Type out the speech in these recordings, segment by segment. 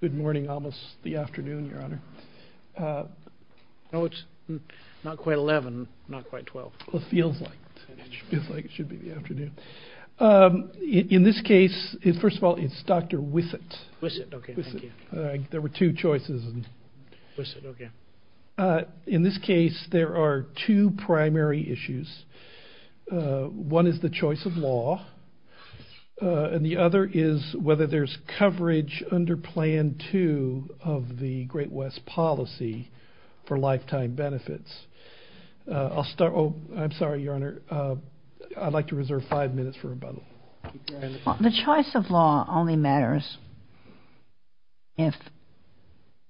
Good morning, almost the afternoon, Your Honor. No, it's not quite 11, not quite 12. Well, it feels like it. It feels like it should be the afternoon. In this case, first of all, it's Dr. Wissot. Wissot, okay, thank you. There were two choices. Wissot, okay. In this case, there are two primary issues. One is the choice of law, and the other is whether there's coverage under Plan 2 of the Great-West policy for lifetime benefits. I'll start. Oh, I'm sorry, Your Honor. I'd like to reserve five minutes for rebuttal. The choice of law only matters if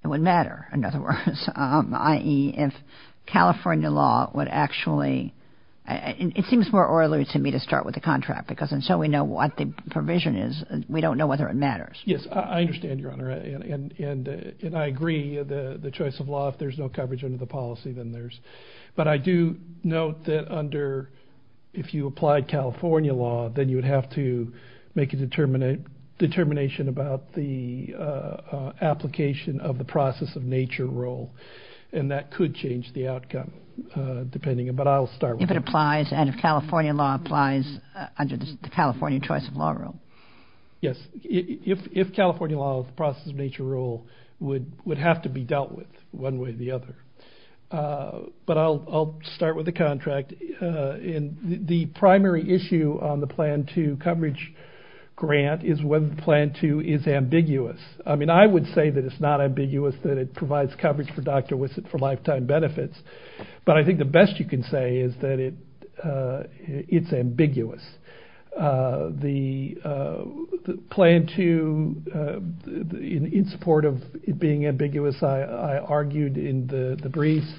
it would matter, in other words, i.e., if California law would actually... It seems more orderly to me to start with the contract because until we know what the provision is, we don't know whether it matters. Yes, I understand, Your Honor, and I agree. The choice of law, if there's no coverage under the policy, then there's... But I do note that under... If you applied California law, then you would have to make a determination about the application of the process-of-nature rule, and that could change the outcome, depending... If it applies and if California law applies under the California choice of law rule. Yes, if California law, the process-of-nature rule, would have to be dealt with one way or the other. But I'll start with the contract. The primary issue on the Plan 2 coverage grant is whether Plan 2 is ambiguous. I mean, I would say that it's not ambiguous, that it provides coverage for Dr. Wissett for lifetime benefits, but I think the best you can say is that it's ambiguous. The Plan 2, in support of it being ambiguous, I argued in the briefs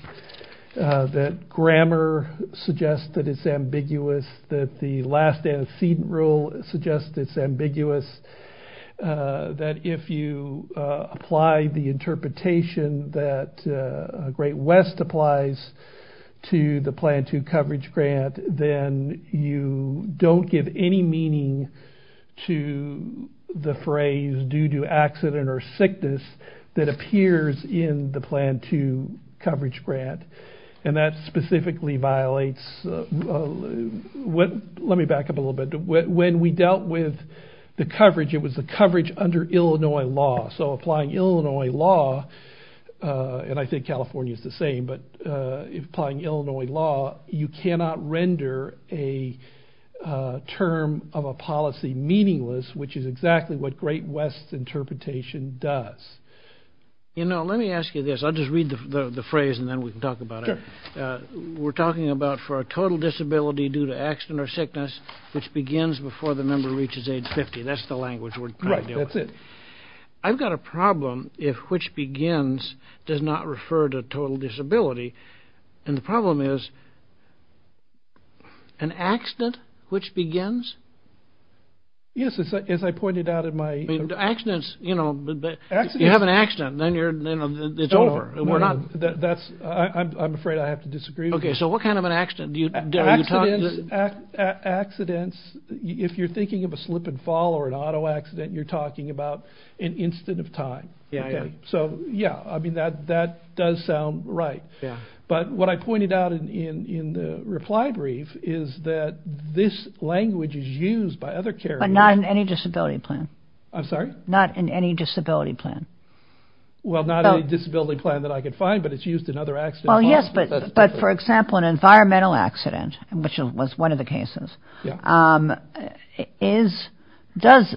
that grammar suggests that it's ambiguous, that the last antecedent rule suggests it's ambiguous, that if you apply the interpretation that Great West applies to the Plan 2 coverage grant, then you don't give any meaning to the phrase due to accident or sickness that appears in the Plan 2 coverage grant. And that specifically violates... Let me back up a little bit. When we dealt with the coverage, it was the coverage under Illinois law. So applying Illinois law, and I think California's the same, but applying Illinois law, you cannot render a term of a policy meaningless, which is exactly what Great West's interpretation does. You know, let me ask you this. I'll just read the phrase, and then we can talk about it. We're talking about for a total disability due to accident or sickness, which begins before the member reaches age 50. That's the language we're trying to deal with. I've got a problem if which begins does not refer to total disability. And the problem is, an accident which begins? Yes, as I pointed out in my... Accidents, you know, you have an accident, and then it's over. I'm afraid I have to disagree with you. Okay, so what kind of an accident? Accidents, if you're thinking of a slip and fall or an auto accident, you're talking about an instant of time. Yeah, I agree. So, yeah, I mean, that does sound right. Yeah. But what I pointed out in the reply brief is that this language is used by other carriers. But not in any disability plan. I'm sorry? Not in any disability plan. Well, not any disability plan that I could find, but it's used in other accidents. Well, yes, but for example, an environmental accident, which was one of the cases, does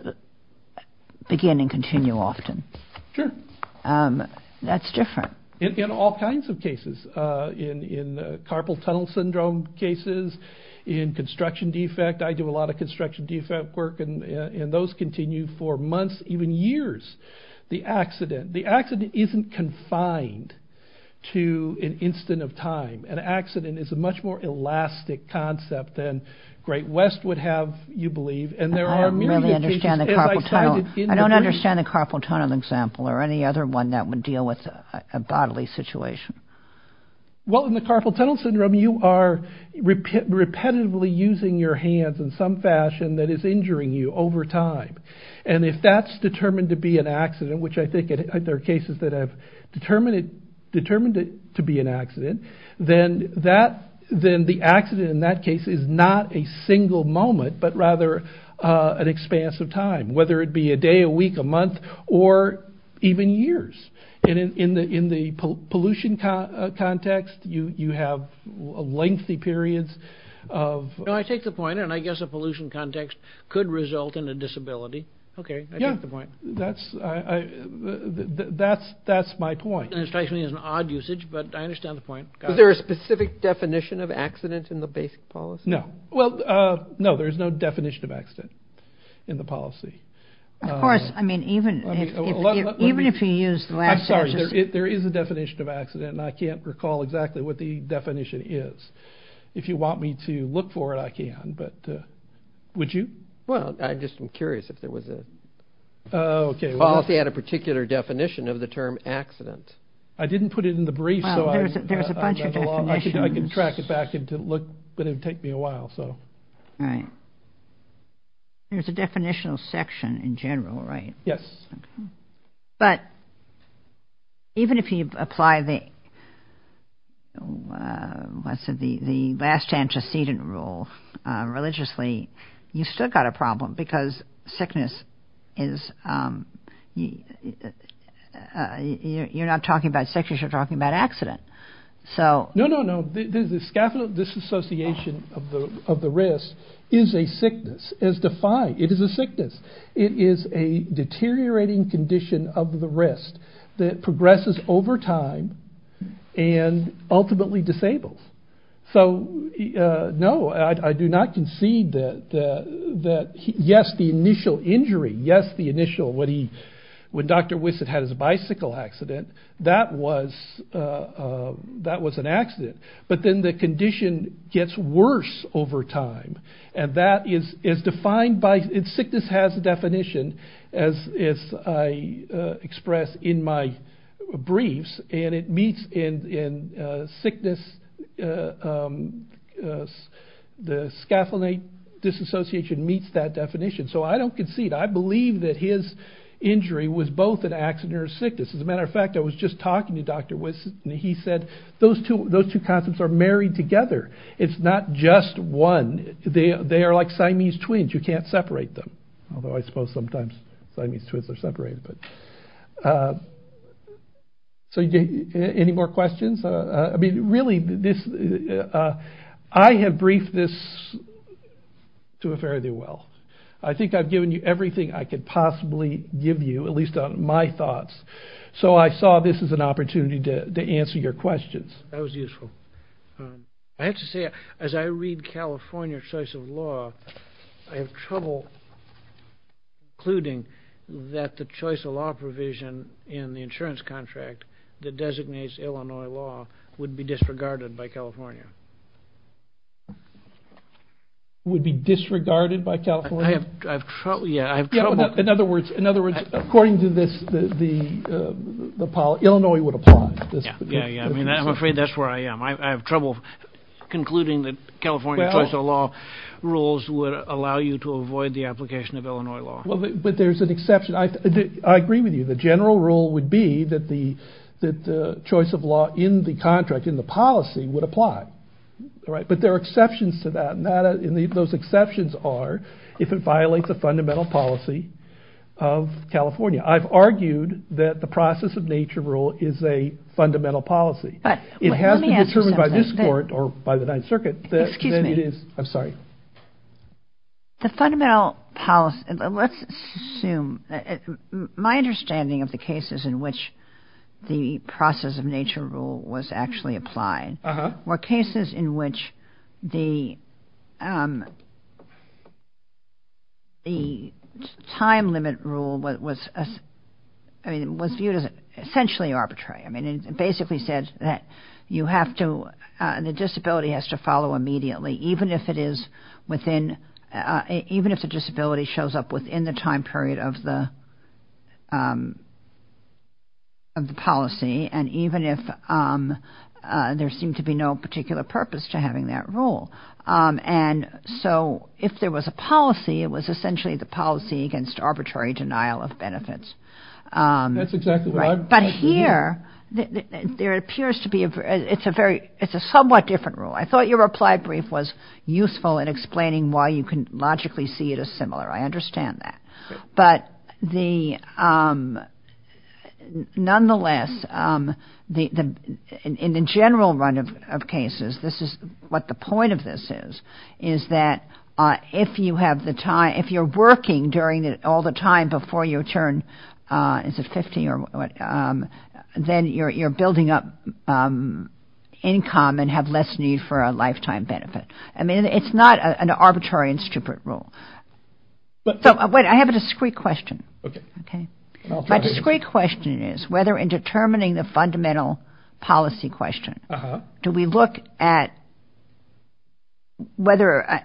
begin and continue often. Sure. That's different. In all kinds of cases. In carpal tunnel syndrome cases, in construction defect. I do a lot of construction defect work, and those continue for months, even years. The accident isn't confined to an instant of time. An accident is a much more elastic concept than Great West would have, you believe. I don't really understand the carpal tunnel. I don't understand the carpal tunnel example or any other one that would deal with a bodily situation. Well, in the carpal tunnel syndrome, you are repetitively using your hands in some fashion that is injuring you over time. And if that's determined to be an accident, which I think there are cases that have determined it to be an accident, then the accident in that case is not a single moment, but rather an expanse of time, whether it be a day, a week, a month, or even years. In the pollution context, you have lengthy periods of... No, I take the point, and I guess a pollution context could result in a disability. Okay, I take the point. Yeah, that's my point. And it strikes me as an odd usage, but I understand the point. Is there a specific definition of accident in the basic policy? No. Well, no, there is no definition of accident in the policy. Of course, I mean, even if you use the last sentence... I'm sorry, there is a definition of accident, and I can't recall exactly what the definition is. If you want me to look for it, I can, but would you? Well, I'm just curious if there was a policy that had a particular definition of the term accident. I didn't put it in the brief, so I... Well, there's a bunch of definitions. I can track it back, but it would take me a while, so... All right. There's a definitional section in general, right? Yes. But even if you apply the last antecedent rule religiously, you've still got a problem, because sickness is... You're not talking about sickness, you're talking about accident. No, no, no. The scaphoidal disassociation of the wrist is a sickness, as defined. It is a sickness. It is a deteriorating condition of the wrist that progresses over time and ultimately disables. So, no, I do not concede that, yes, the initial injury, yes, the initial... When Dr. Wissett had his bicycle accident, that was an accident, but then the condition gets worse over time, and that is defined by... Sickness has a definition, as I expressed in my briefs, and it meets in sickness... The scaphoidal disassociation meets that definition, so I don't concede. I believe that his injury was both an accident or a sickness. As a matter of fact, I was just talking to Dr. Wissett, and he said those two concepts are married together. It's not just one. They are like Siamese twins. You can't separate them, although I suppose sometimes Siamese twins are separated. So, any more questions? I mean, really, I have briefed this to a fairly well. I think I've given you everything I could possibly give you, at least on my thoughts, so I saw this as an opportunity to answer your questions. That was useful. I have to say, as I read California's choice of law, I have trouble concluding that the choice of law provision in the insurance contract that designates Illinois law would be disregarded by California. Would be disregarded by California? I have trouble... In other words, according to this, Illinois would apply. Yeah, I mean, I'm afraid that's where I am. I have trouble concluding that California's choice of law rules would allow you to avoid the application of Illinois law. But there's an exception. I agree with you. The general rule would be that the choice of law in the contract, in the policy, would apply. But there are exceptions to that, and those exceptions are if it violates a fundamental policy of California. I've argued that the process of nature rule is a fundamental policy. But let me ask you something. It has to be determined by this court or by the Ninth Circuit that it is... Excuse me. I'm sorry. The fundamental policy... Let's assume... My understanding of the cases in which the process of nature rule was actually applied were cases in which the time limit rule was... I mean, it was viewed as essentially arbitrary. I mean, it basically said that you have to... The disability has to follow immediately even if the disability shows up within the time period of the policy and even if there seemed to be no particular purpose to having that rule. And so if there was a policy, it was essentially the policy against arbitrary denial of benefits. That's exactly what I'm... But here, there appears to be... It's a somewhat different rule. I thought your reply brief was useful in explaining why you can logically see it as similar. I understand that. But nonetheless, in the general run of cases, this is what the point of this is, is that if you're working all the time before your turn is at 50 or what, then you're building up income and have less need for a lifetime benefit. I mean, it's not an arbitrary and stupid rule. So I have a discrete question. Okay. My discrete question is whether in determining the fundamental policy question, do we look at whether...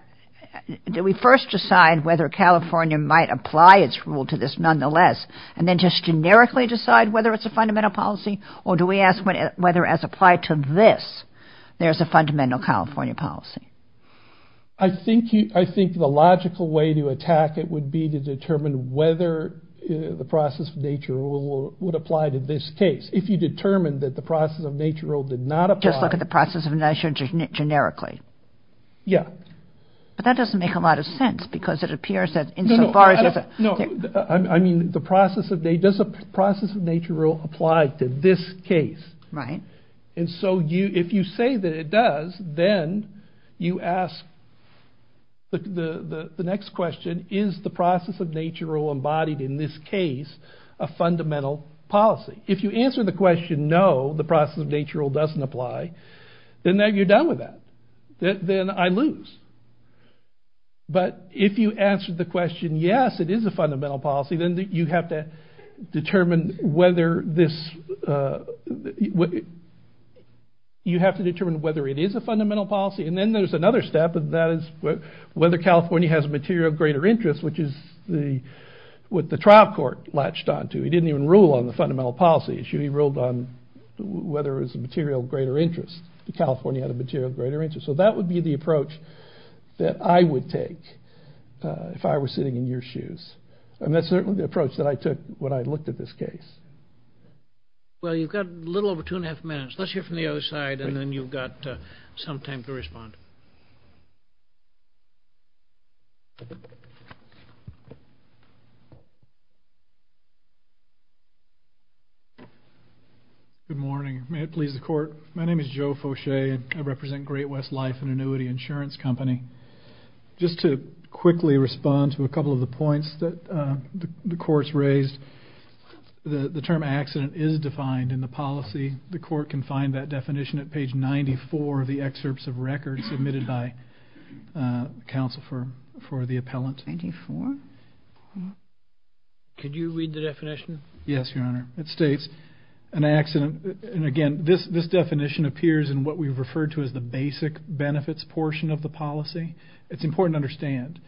Do we first decide whether California might apply its rule to this nonetheless and then just generically decide whether it's a fundamental policy? Or do we ask whether as applied to this, there's a fundamental California policy? I think the logical way to attack it would be to determine whether the process of nature rule would apply to this case. If you determine that the process of nature rule did not apply... Yeah. But that doesn't make a lot of sense because it appears that in so far as... No. I mean, does the process of nature rule apply to this case? Right. And so if you say that it does, then you ask the next question, is the process of nature rule embodied in this case a fundamental policy? If you answer the question, no, the process of nature rule doesn't apply, then you're done with that. Then I lose. But if you answer the question, yes, it is a fundamental policy, then you have to determine whether this... You have to determine whether it is a fundamental policy. And then there's another step, and that is whether California has a material of greater interest, which is what the trial court latched on to. He didn't even rule on the fundamental policy issue. He ruled on whether it was a material of greater interest, that California had a material of greater interest. So that would be the approach that I would take if I were sitting in your shoes. And that's certainly the approach that I took when I looked at this case. Well, you've got a little over 2 1⁄2 minutes. Let's hear from the other side, and then you've got some time to respond. Good morning. May it please the court? My name is Joe Foshay, and I represent Great West Life, an annuity insurance company. Just to quickly respond to a couple of the points that the court's raised, the term accident is defined in the policy. The court can find that definition at page 94 of the excerpts of records submitted by counsel for the appellant. 94? Could you read the definition? Yes, Your Honor. It states, an accident... It's referred to as the basic benefits portion of the policy. It's important to understand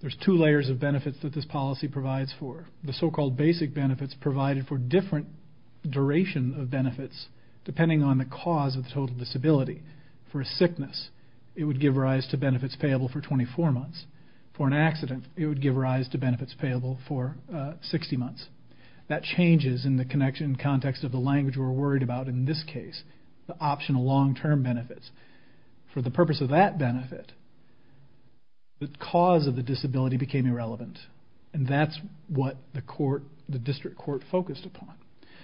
there's two layers of benefits that this policy provides for. The so-called basic benefits provided for different duration of benefits, depending on the cause of the total disability. For a sickness, it would give rise to benefits payable for 24 months. For an accident, it would give rise to benefits payable for 60 months. That changes in the context of the language we're worried about in this case. The optional long-term benefits. For the purpose of that benefit, the cause of the disability became irrelevant. And that's what the district court focused upon.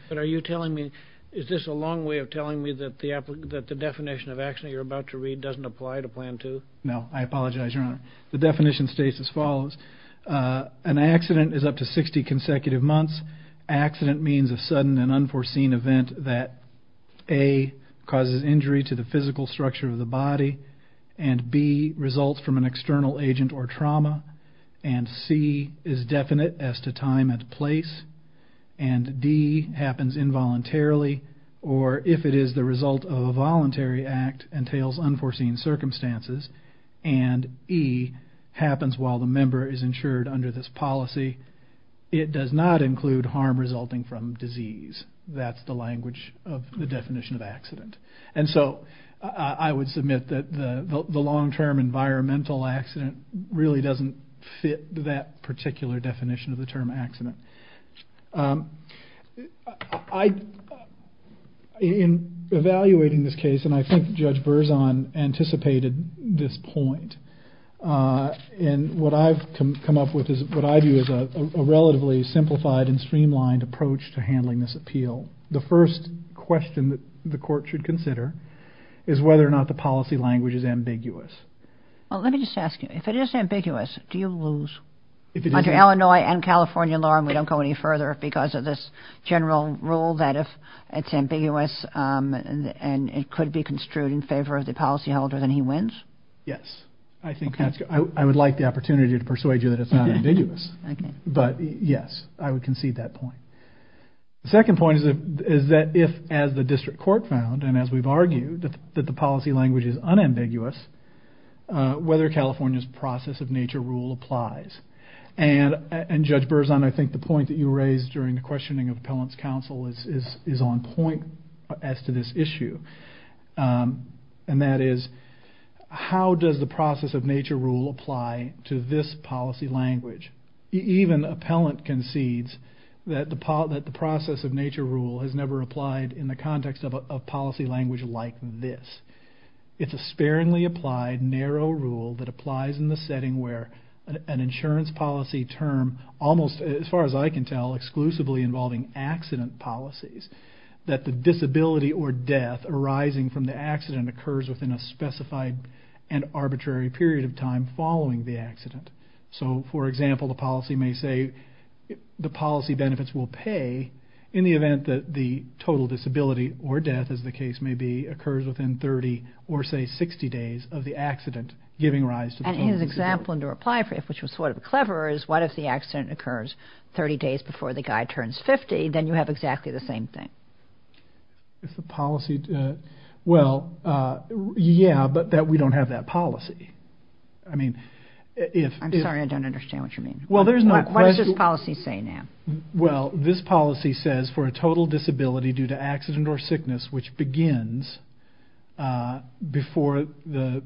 But are you telling me... Is this a long way of telling me that the definition of accident you're about to read doesn't apply to Plan 2? No, I apologize, Your Honor. The definition states as follows. An accident is up to 60 consecutive months. Accident means a sudden and unforeseen event that A, causes injury to the physical structure of the body, and B, results from an external agent or trauma, and C, is definite as to time and place, and D, happens involuntarily, or if it is the result of a voluntary act, entails unforeseen circumstances, and E, happens while the member is insured under this policy. It does not include harm resulting from disease. That's the language of the definition of accident. And so I would submit that the long-term environmental accident really doesn't fit that particular definition of the term accident. In evaluating this case, and I think Judge Berzon anticipated this point, and what I've come up with is, what I view as a relatively simplified and streamlined approach to handling this appeal. The first question that the court should consider is whether or not the policy language is ambiguous. Well, let me just ask you, if it is ambiguous, do you lose? If it is. Under Illinois and California law, and we don't go any further because of this general rule, that if it's ambiguous, and it could be construed in favor of the policyholder, then he wins? Yes. Okay. I would like the opportunity to persuade you that it's not ambiguous. Okay. But yes, I would concede that point. The second point is that if, as the district court found, and as we've argued, that the policy language is unambiguous, whether California's process of nature rule applies. And Judge Berzon, I think the point that you raised during the questioning of appellant's counsel is on point as to this issue. And that is, how does the process of nature rule apply to this policy language? Even appellant concedes that the process of nature rule has never applied in the context of a policy language like this. It's a sparingly applied, narrow rule that applies in the setting where an insurance policy term, almost as far as I can tell, exclusively involving accident policies, that the disability or death arising from the accident occurs within a specified and arbitrary period of time following the accident. So, for example, the policy may say the policy benefits will pay in the event that the total disability or death, as the case may be, occurs within 30 or, say, 60 days of the accident giving rise to the total disability. And his example, which was sort of clever, is what if the accident occurs 30 days before the guy turns 50, then you have exactly the same thing. If the policy, well, yeah, but that we don't have that policy. I'm sorry, I don't understand what you mean. Well, there's no question. What does this policy say now? Well, this policy says for a total disability due to accident or sickness, which begins before the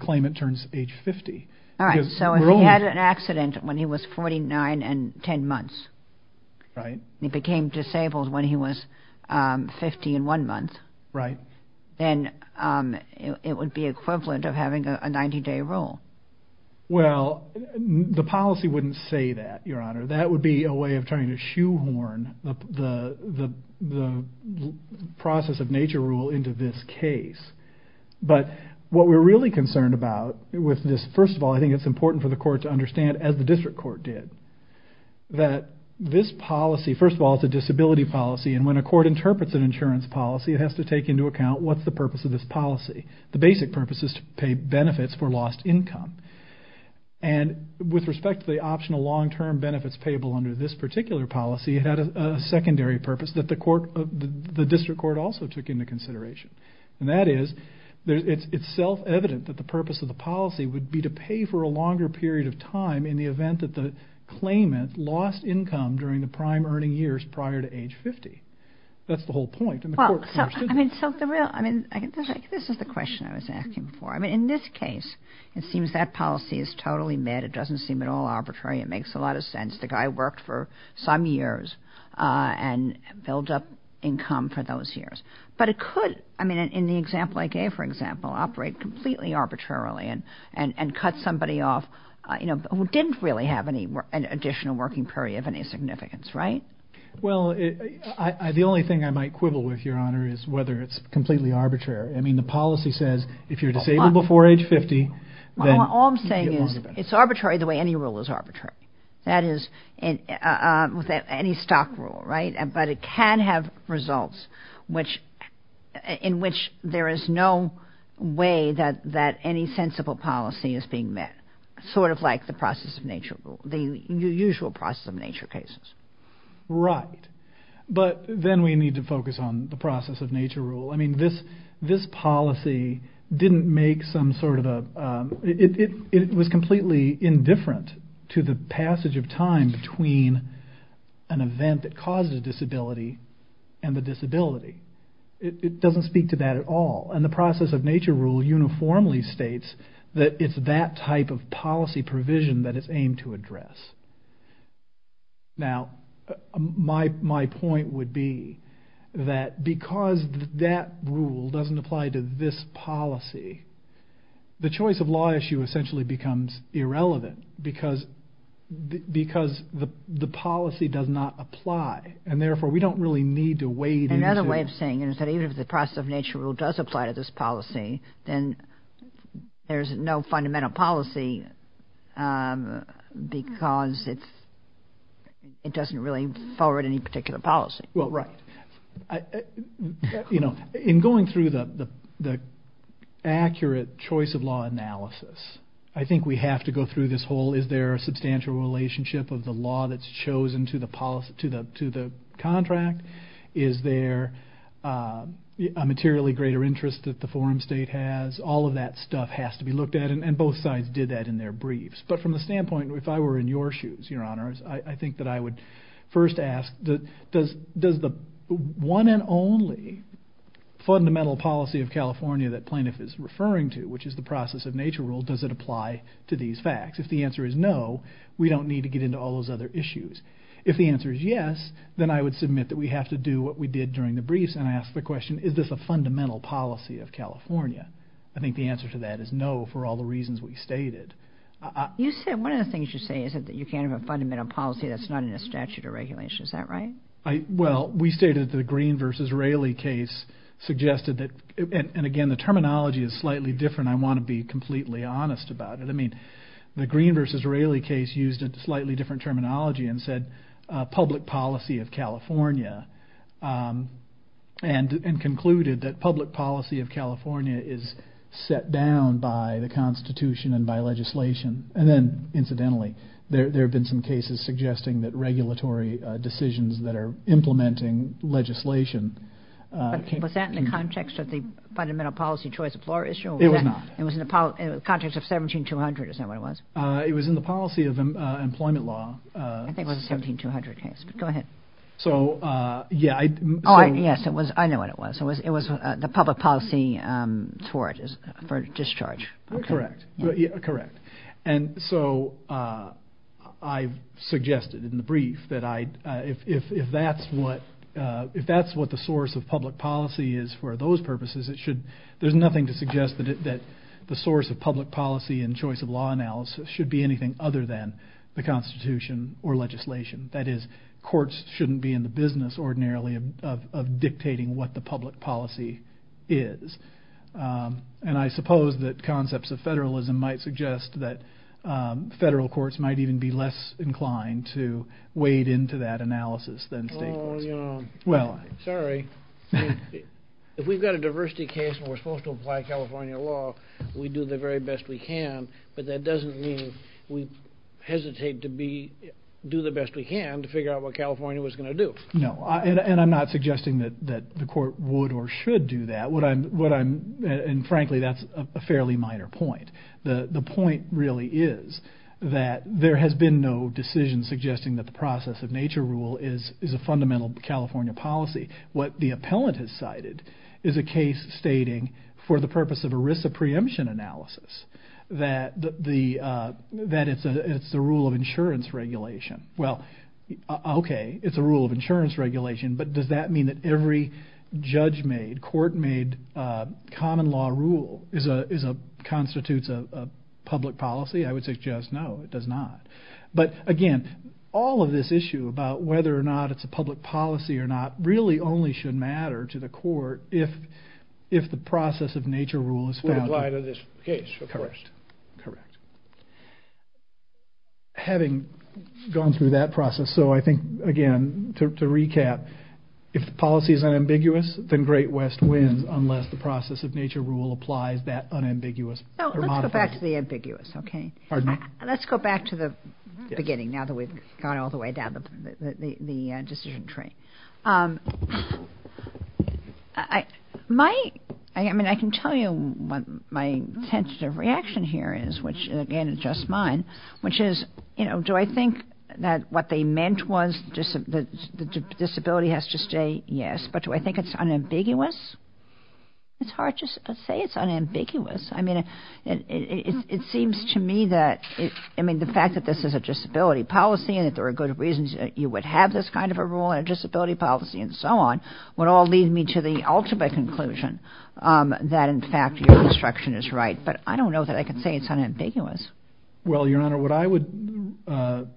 claimant turns age 50. All right, so if he had an accident when he was 49 and 10 months, he became disabled when he was 50 and one month, then it would be equivalent of having a 90-day rule. Well, the policy wouldn't say that, Your Honor. That would be a way of trying to shoehorn the process of nature rule into this case. But what we're really concerned about with this, first of all, I think it's important for the court to understand, as the district court did, that this policy, first of all, it's a disability policy, and when a court interprets an insurance policy, it has to take into account what's the purpose of this policy. The basic purpose is to pay benefits for lost income. And with respect to the optional long-term benefits payable under this particular policy, it had a secondary purpose that the district court also took into consideration. And that is it's self-evident that the purpose of the policy would be to pay for a longer period of time in the event that the claimant lost income during the prime earning years prior to age 50. That's the whole point. Well, I mean, so the real, I mean, this is the question I was asking before. I mean, in this case, it seems that policy is totally met. It doesn't seem at all arbitrary. It makes a lot of sense. The guy worked for some years and built up income for those years. But it could, I mean, in the example I gave, for example, operate completely arbitrarily and cut somebody off, you know, who didn't really have any additional working period of any significance, right? Well, the only thing I might quibble with, Your Honor, is whether it's completely arbitrary. I mean, the policy says if you're disabled before age 50, then you get longer benefits. All I'm saying is it's arbitrary the way any rule is arbitrary. That is with any stock rule, right? But it can have results in which there is no way that any sensible policy is being met. Sort of like the process of nature rule, the usual process of nature cases. Right. But then we need to focus on the process of nature rule. I mean, this policy didn't make some sort of a, it was completely indifferent to the passage of time between an event that causes a disability and the disability. It doesn't speak to that at all. And the process of nature rule uniformly states that it's that type of policy provision that it's aimed to address. Now, my point would be that because that rule doesn't apply to this policy, the choice of law issue essentially becomes irrelevant because the policy does not apply. And therefore, we don't really need to weigh these. There's a way of saying that even if the process of nature rule does apply to this policy, then there's no fundamental policy because it doesn't really forward any particular policy. Right. In going through the accurate choice of law analysis, I think we have to go through this whole is there a substantial relationship of the law that's chosen to the contract? Is there a materially greater interest that the forum state has? All of that stuff has to be looked at. And both sides did that in their briefs. But from the standpoint, if I were in your shoes, Your Honor, I think that I would first ask does the one and only fundamental policy of California that plaintiff is referring to, which is the process of nature rule, does it apply to these facts? If the answer is no, we don't need to get into all those other issues. If the answer is yes, then I would submit that we have to do what we did during the briefs and ask the question, is this a fundamental policy of California? I think the answer to that is no for all the reasons we stated. You said one of the things you say is that you can't have a fundamental policy that's not in a statute of regulations. Is that right? Well, we stated that the Green v. Raley case suggested that, and again, the terminology is slightly different. I want to be completely honest about it. I mean, the Green v. Raley case said public policy of California and concluded that public policy of California is set down by the Constitution and by legislation. And then, incidentally, there have been some cases suggesting that regulatory decisions that are implementing legislation. Was that in the context of the fundamental policy choice of law issue? It was not. It was in the context of 17-200. Is that what it was? It was in the policy of employment law. I think it was a 17-200 case. Go ahead. So, yeah. Oh, yes. I know what it was. It was the public policy for discharge. Correct. Correct. And so I suggested in the brief that if that's what the source of public policy is for those purposes, there's nothing to suggest that the source of public policy and choice of law analysis should be anything other than the Constitution or legislation. That is, courts shouldn't be in the business ordinarily of dictating what the public policy is. And I suppose that concepts of federalism might suggest that federal courts might even be less inclined to wade into that analysis than state courts. Well, sorry. If we've got a diversity case and we're supposed to apply California law, we do the very best we can. But that doesn't mean we hesitate to do the best we can to figure out what California was going to do. No. And I'm not suggesting that the court would or should do that. And, frankly, that's a fairly minor point. The point really is that there has been no decision suggesting that the process of nature rule is a fundamental California policy. What the appellant has cited is a case stating, for the purpose of a risk of preemption analysis, that it's a rule of insurance regulation. Well, okay, it's a rule of insurance regulation, but does that mean that every judge-made, court-made common law rule constitutes a public policy? I would suggest no, it does not. But, again, all of this issue about whether or not it's a public policy or if the process of nature rule is founded. Would apply to this case, of course. Correct. Having gone through that process, so I think, again, to recap, if the policy is unambiguous, then Great West wins, unless the process of nature rule applies that unambiguous or modified. Let's go back to the ambiguous, okay? Pardon me? Let's go back to the beginning, now that we've gone all the way down the decision train. My, I mean, I can tell you what my sensitive reaction here is, which, again, is just mine, which is, you know, do I think that what they meant was the disability has to stay? Yes. But do I think it's unambiguous? It's hard to say it's unambiguous. I mean, it seems to me that, I mean, the fact that this is a disability policy and that there are good reasons that you would have this kind of a rule in a disability policy and so on would all lead me to the ultimate conclusion that, in fact, your instruction is right. But I don't know that I can say it's unambiguous. Well, Your Honor, what I would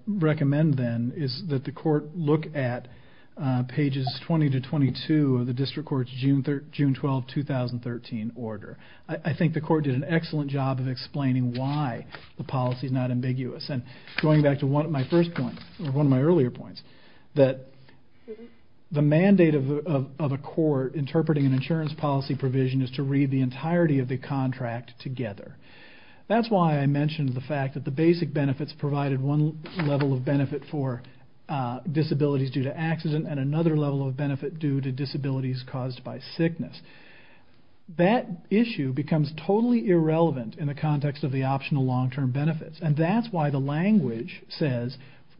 recommend, then, is that the court look at pages 20 to 22 of the district court's June 12, 2013, order. I think the court did an excellent job of explaining why the policy is not ambiguous. And going back to one of my first points, or one of my earlier points, that the mandate of a court interpreting an insurance policy provision is to read the entirety of the contract together. That's why I mentioned the fact that the basic benefits provided one level of benefit for disabilities due to accident and another level of benefit due to disabilities caused by sickness. That issue becomes totally irrelevant in the context of the optional long-term benefits. And that's why the language says,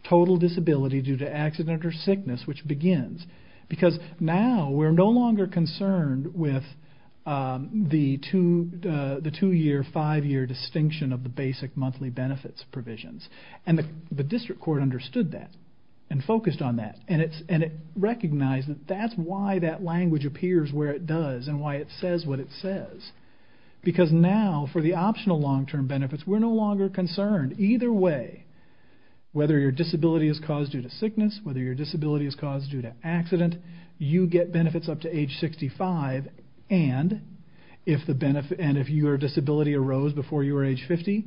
total disability due to accident or sickness, which begins. Because now we're no longer concerned with the two-year, five-year distinction of the basic monthly benefits provisions. And the district court understood that and focused on that. And it recognized that that's why that language appears where it does and why it says what it says. Because now, for the optional long-term benefits, we're no longer concerned. Either way, whether your disability is caused due to sickness, whether your disability is caused due to accident, you get benefits up to age 65. And if your disability arose before you were age 50,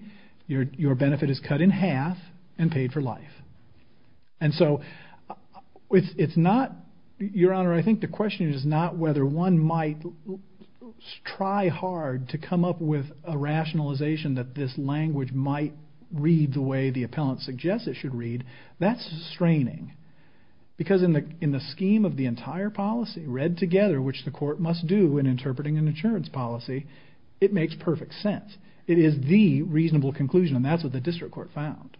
your benefit is cut in half and paid for life. And so, Your Honor, I think the question is not whether one might try hard to come up with a rationalization that this language might read the way the appellant suggests it should read. That's straining. Because in the scheme of the entire policy, read together, which the court must do in interpreting an insurance policy, it makes perfect sense. It is the reasonable conclusion, and that's what the district court found.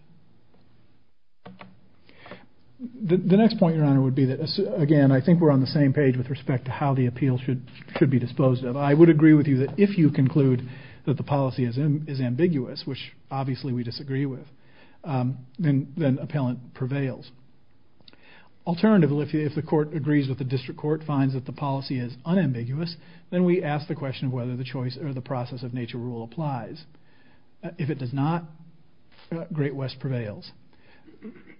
The next point, Your Honor, would be that, again, I think we're on the same page with respect to how the appeal should be disposed of. I would agree with you that if you conclude that the policy is ambiguous, which obviously we disagree with, then appellant prevails. Alternatively, if the court agrees with the district court, finds that the policy is unambiguous, then we ask the question of whether the process of nature rule applies. If it does not, Great West prevails.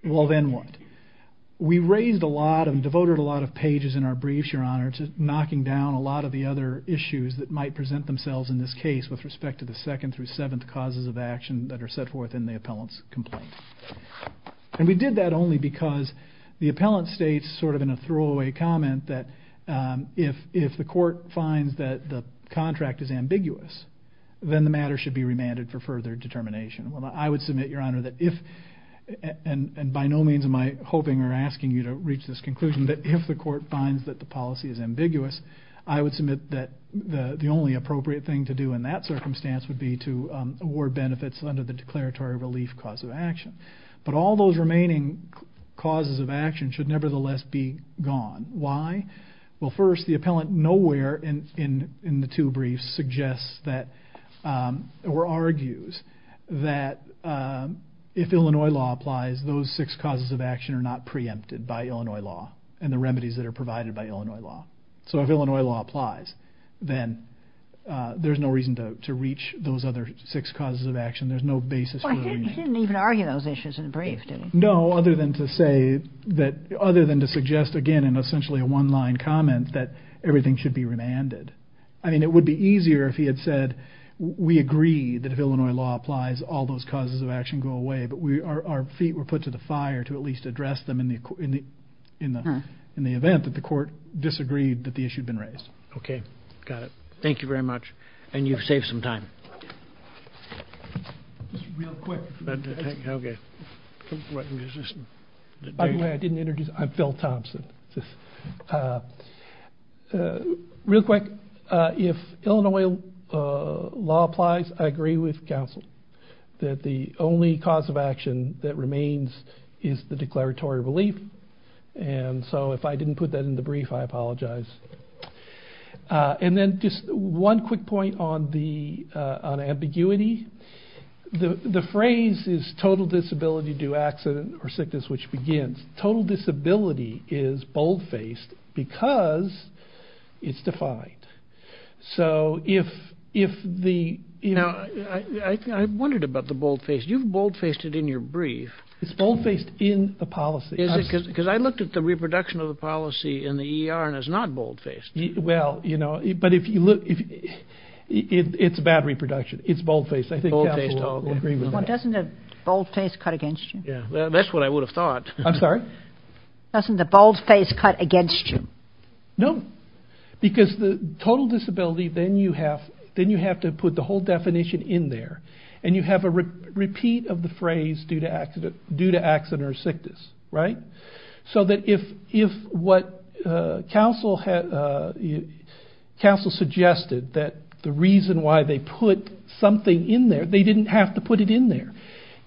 Well, then what? We raised a lot and devoted a lot of pages in our briefs, Your Honor, to knocking down a lot of the other issues that might present themselves in this case with respect to the second through seventh causes of action that are set forth in the appellant's complaint. We did that only because the appellant states sort of in a throwaway comment that if the court finds that the contract is ambiguous, then the matter should be remanded for further determination. Well, I would submit, Your Honor, that if, and by no means am I hoping or asking you to reach this conclusion, that if the court finds that the policy is ambiguous, I would submit that the only appropriate thing to do in that circumstance would be to award benefits under the declaratory relief cause of action. But all those remaining causes of action should nevertheless be gone. Why? Well, first, the appellant nowhere in the two briefs suggests that or argues that if Illinois law applies, those six causes of action are not preempted by Illinois law and the remedies that are provided by Illinois law. So if Illinois law applies, then there's no reason to reach those other six causes of action. There's no basis for the remand. He didn't even argue those issues in the brief, did he? No, other than to suggest again in essentially a one-line comment that everything should be remanded. I mean, it would be easier if he had said, we agree that if Illinois law applies, all those causes of action go away. But our feet were put to the fire to at least address them in the event that the court disagreed that the issue had been raised. Okay, got it. Thank you very much. And you've saved some time. Just real quick. Okay. By the way, I didn't introduce, I'm Phil Thompson. Real quick, if Illinois law applies, I agree with counsel that the only cause of action that remains is the declaratory relief. And so if I didn't put that in the brief, I apologize. And then just one quick point on ambiguity. The phrase is total disability due accident or sickness, which begins. Total disability is boldfaced because it's defined. So if the, you know. Now, I wondered about the boldfaced. You've boldfaced it in your brief. It's boldfaced in the policy. Is it? Because I looked at the reproduction of the policy in the ER and it's not boldfaced. Well, you know, but if you look, it's bad reproduction. It's boldfaced. I think counsel will agree with that. Well, doesn't that boldface cut against you? That's what I would have thought. I'm sorry? Doesn't the boldface cut against you? No. Because the total disability, then you have to put the whole definition in there. And you have a repeat of the phrase due to accident or sickness, right? So that if what counsel suggested that the reason why they put something in there, they didn't have to put it in there.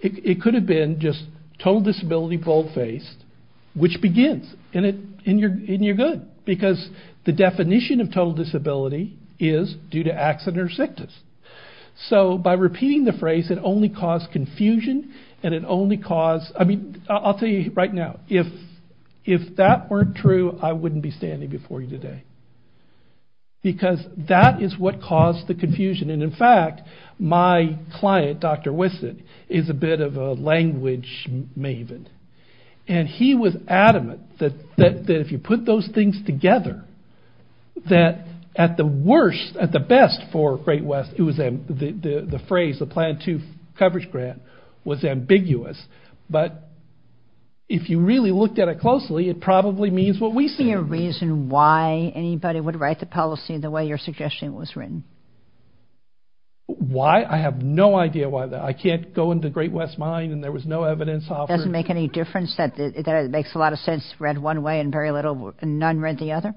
It could have been just total disability boldfaced, which begins. And you're good. Because the definition of total disability is due to accident or sickness. So by repeating the phrase, it only caused confusion and it only caused, I mean, I'll tell you right now, if that weren't true, I wouldn't be standing before you today. Because that is what caused the confusion. And, in fact, my client, Dr. Wissett, is a bit of a language maven. And he was adamant that if you put those things together, that at the worst, at the best for Great West, it was the phrase, the Plan 2 Coverage Grant, was ambiguous. But if you really looked at it closely, it probably means what we say. Is there any reason why anybody would write the policy the way your suggestion was written? Why? I have no idea why that. I can't go into Great West mine and there was no evidence. It doesn't make any difference that it makes a lot of sense read one way and very little, none read the other.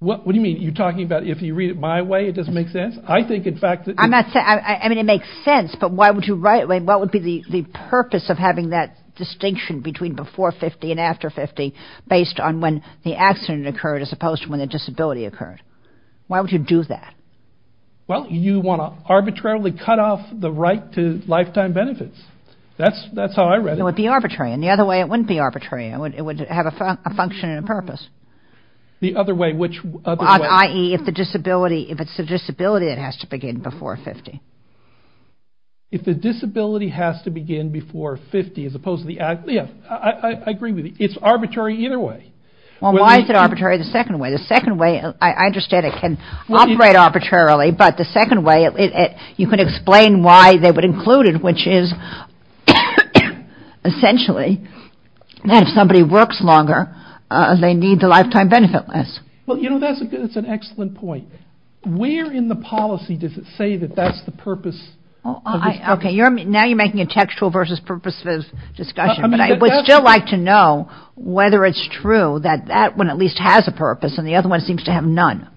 What do you mean? You're talking about if you read it my way, it doesn't make sense? I think, in fact, that. I mean, it makes sense. But why would you write it? What would be the purpose of having that distinction between before 50 and after 50 based on when the accident occurred as opposed to when the disability occurred? Why would you do that? Well, you want to arbitrarily cut off the right to lifetime benefits. That's how I read it. It would be arbitrary. And the other way, it wouldn't be arbitrary. It would have a function and a purpose. The other way, which other way? I.e., if it's a disability, it has to begin before 50. If the disability has to begin before 50 as opposed to the act, yeah, I agree with you. It's arbitrary either way. Well, why is it arbitrary the second way? The second way, I understand it can operate arbitrarily, but the second way, you can explain why they would include it, which is essentially that if somebody works longer, they need the lifetime benefit less. Well, you know, that's an excellent point. Where in the policy does it say that that's the purpose? Okay, now you're making a textual versus purposive discussion, but I would still like to know whether it's true that that one at least has a purpose and the other one seems to have none.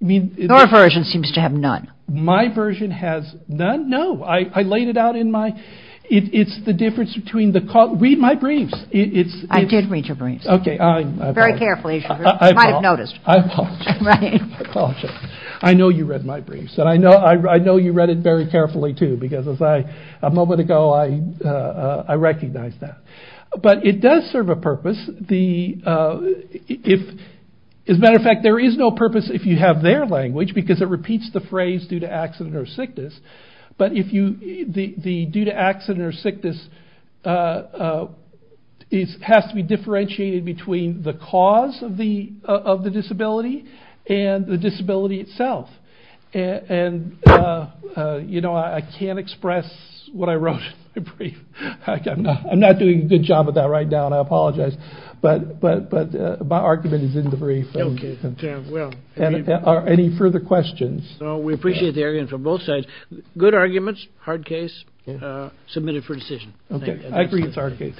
Your version seems to have none. My version has none? No. I laid it out in my – it's the difference between the – read my briefs. I did read your briefs. Okay, I apologize. Very carefully. You might have noticed. I apologize. I know you read my briefs, and I know you read it very carefully, too, because a moment ago I recognized that. But it does serve a purpose. As a matter of fact, there is no purpose if you have their language because it repeats the phrase due to accident or sickness, but if you – the due to accident or sickness has to be differentiated between the cause of the disability and the disability itself. And, you know, I can't express what I wrote in my brief. I'm not doing a good job of that right now, and I apologize. But my argument is in the brief. Okay, well. Any further questions? No, we appreciate the argument from both sides. Good arguments. Hard case. Submitted for decision. Okay, I agree it's a hard case.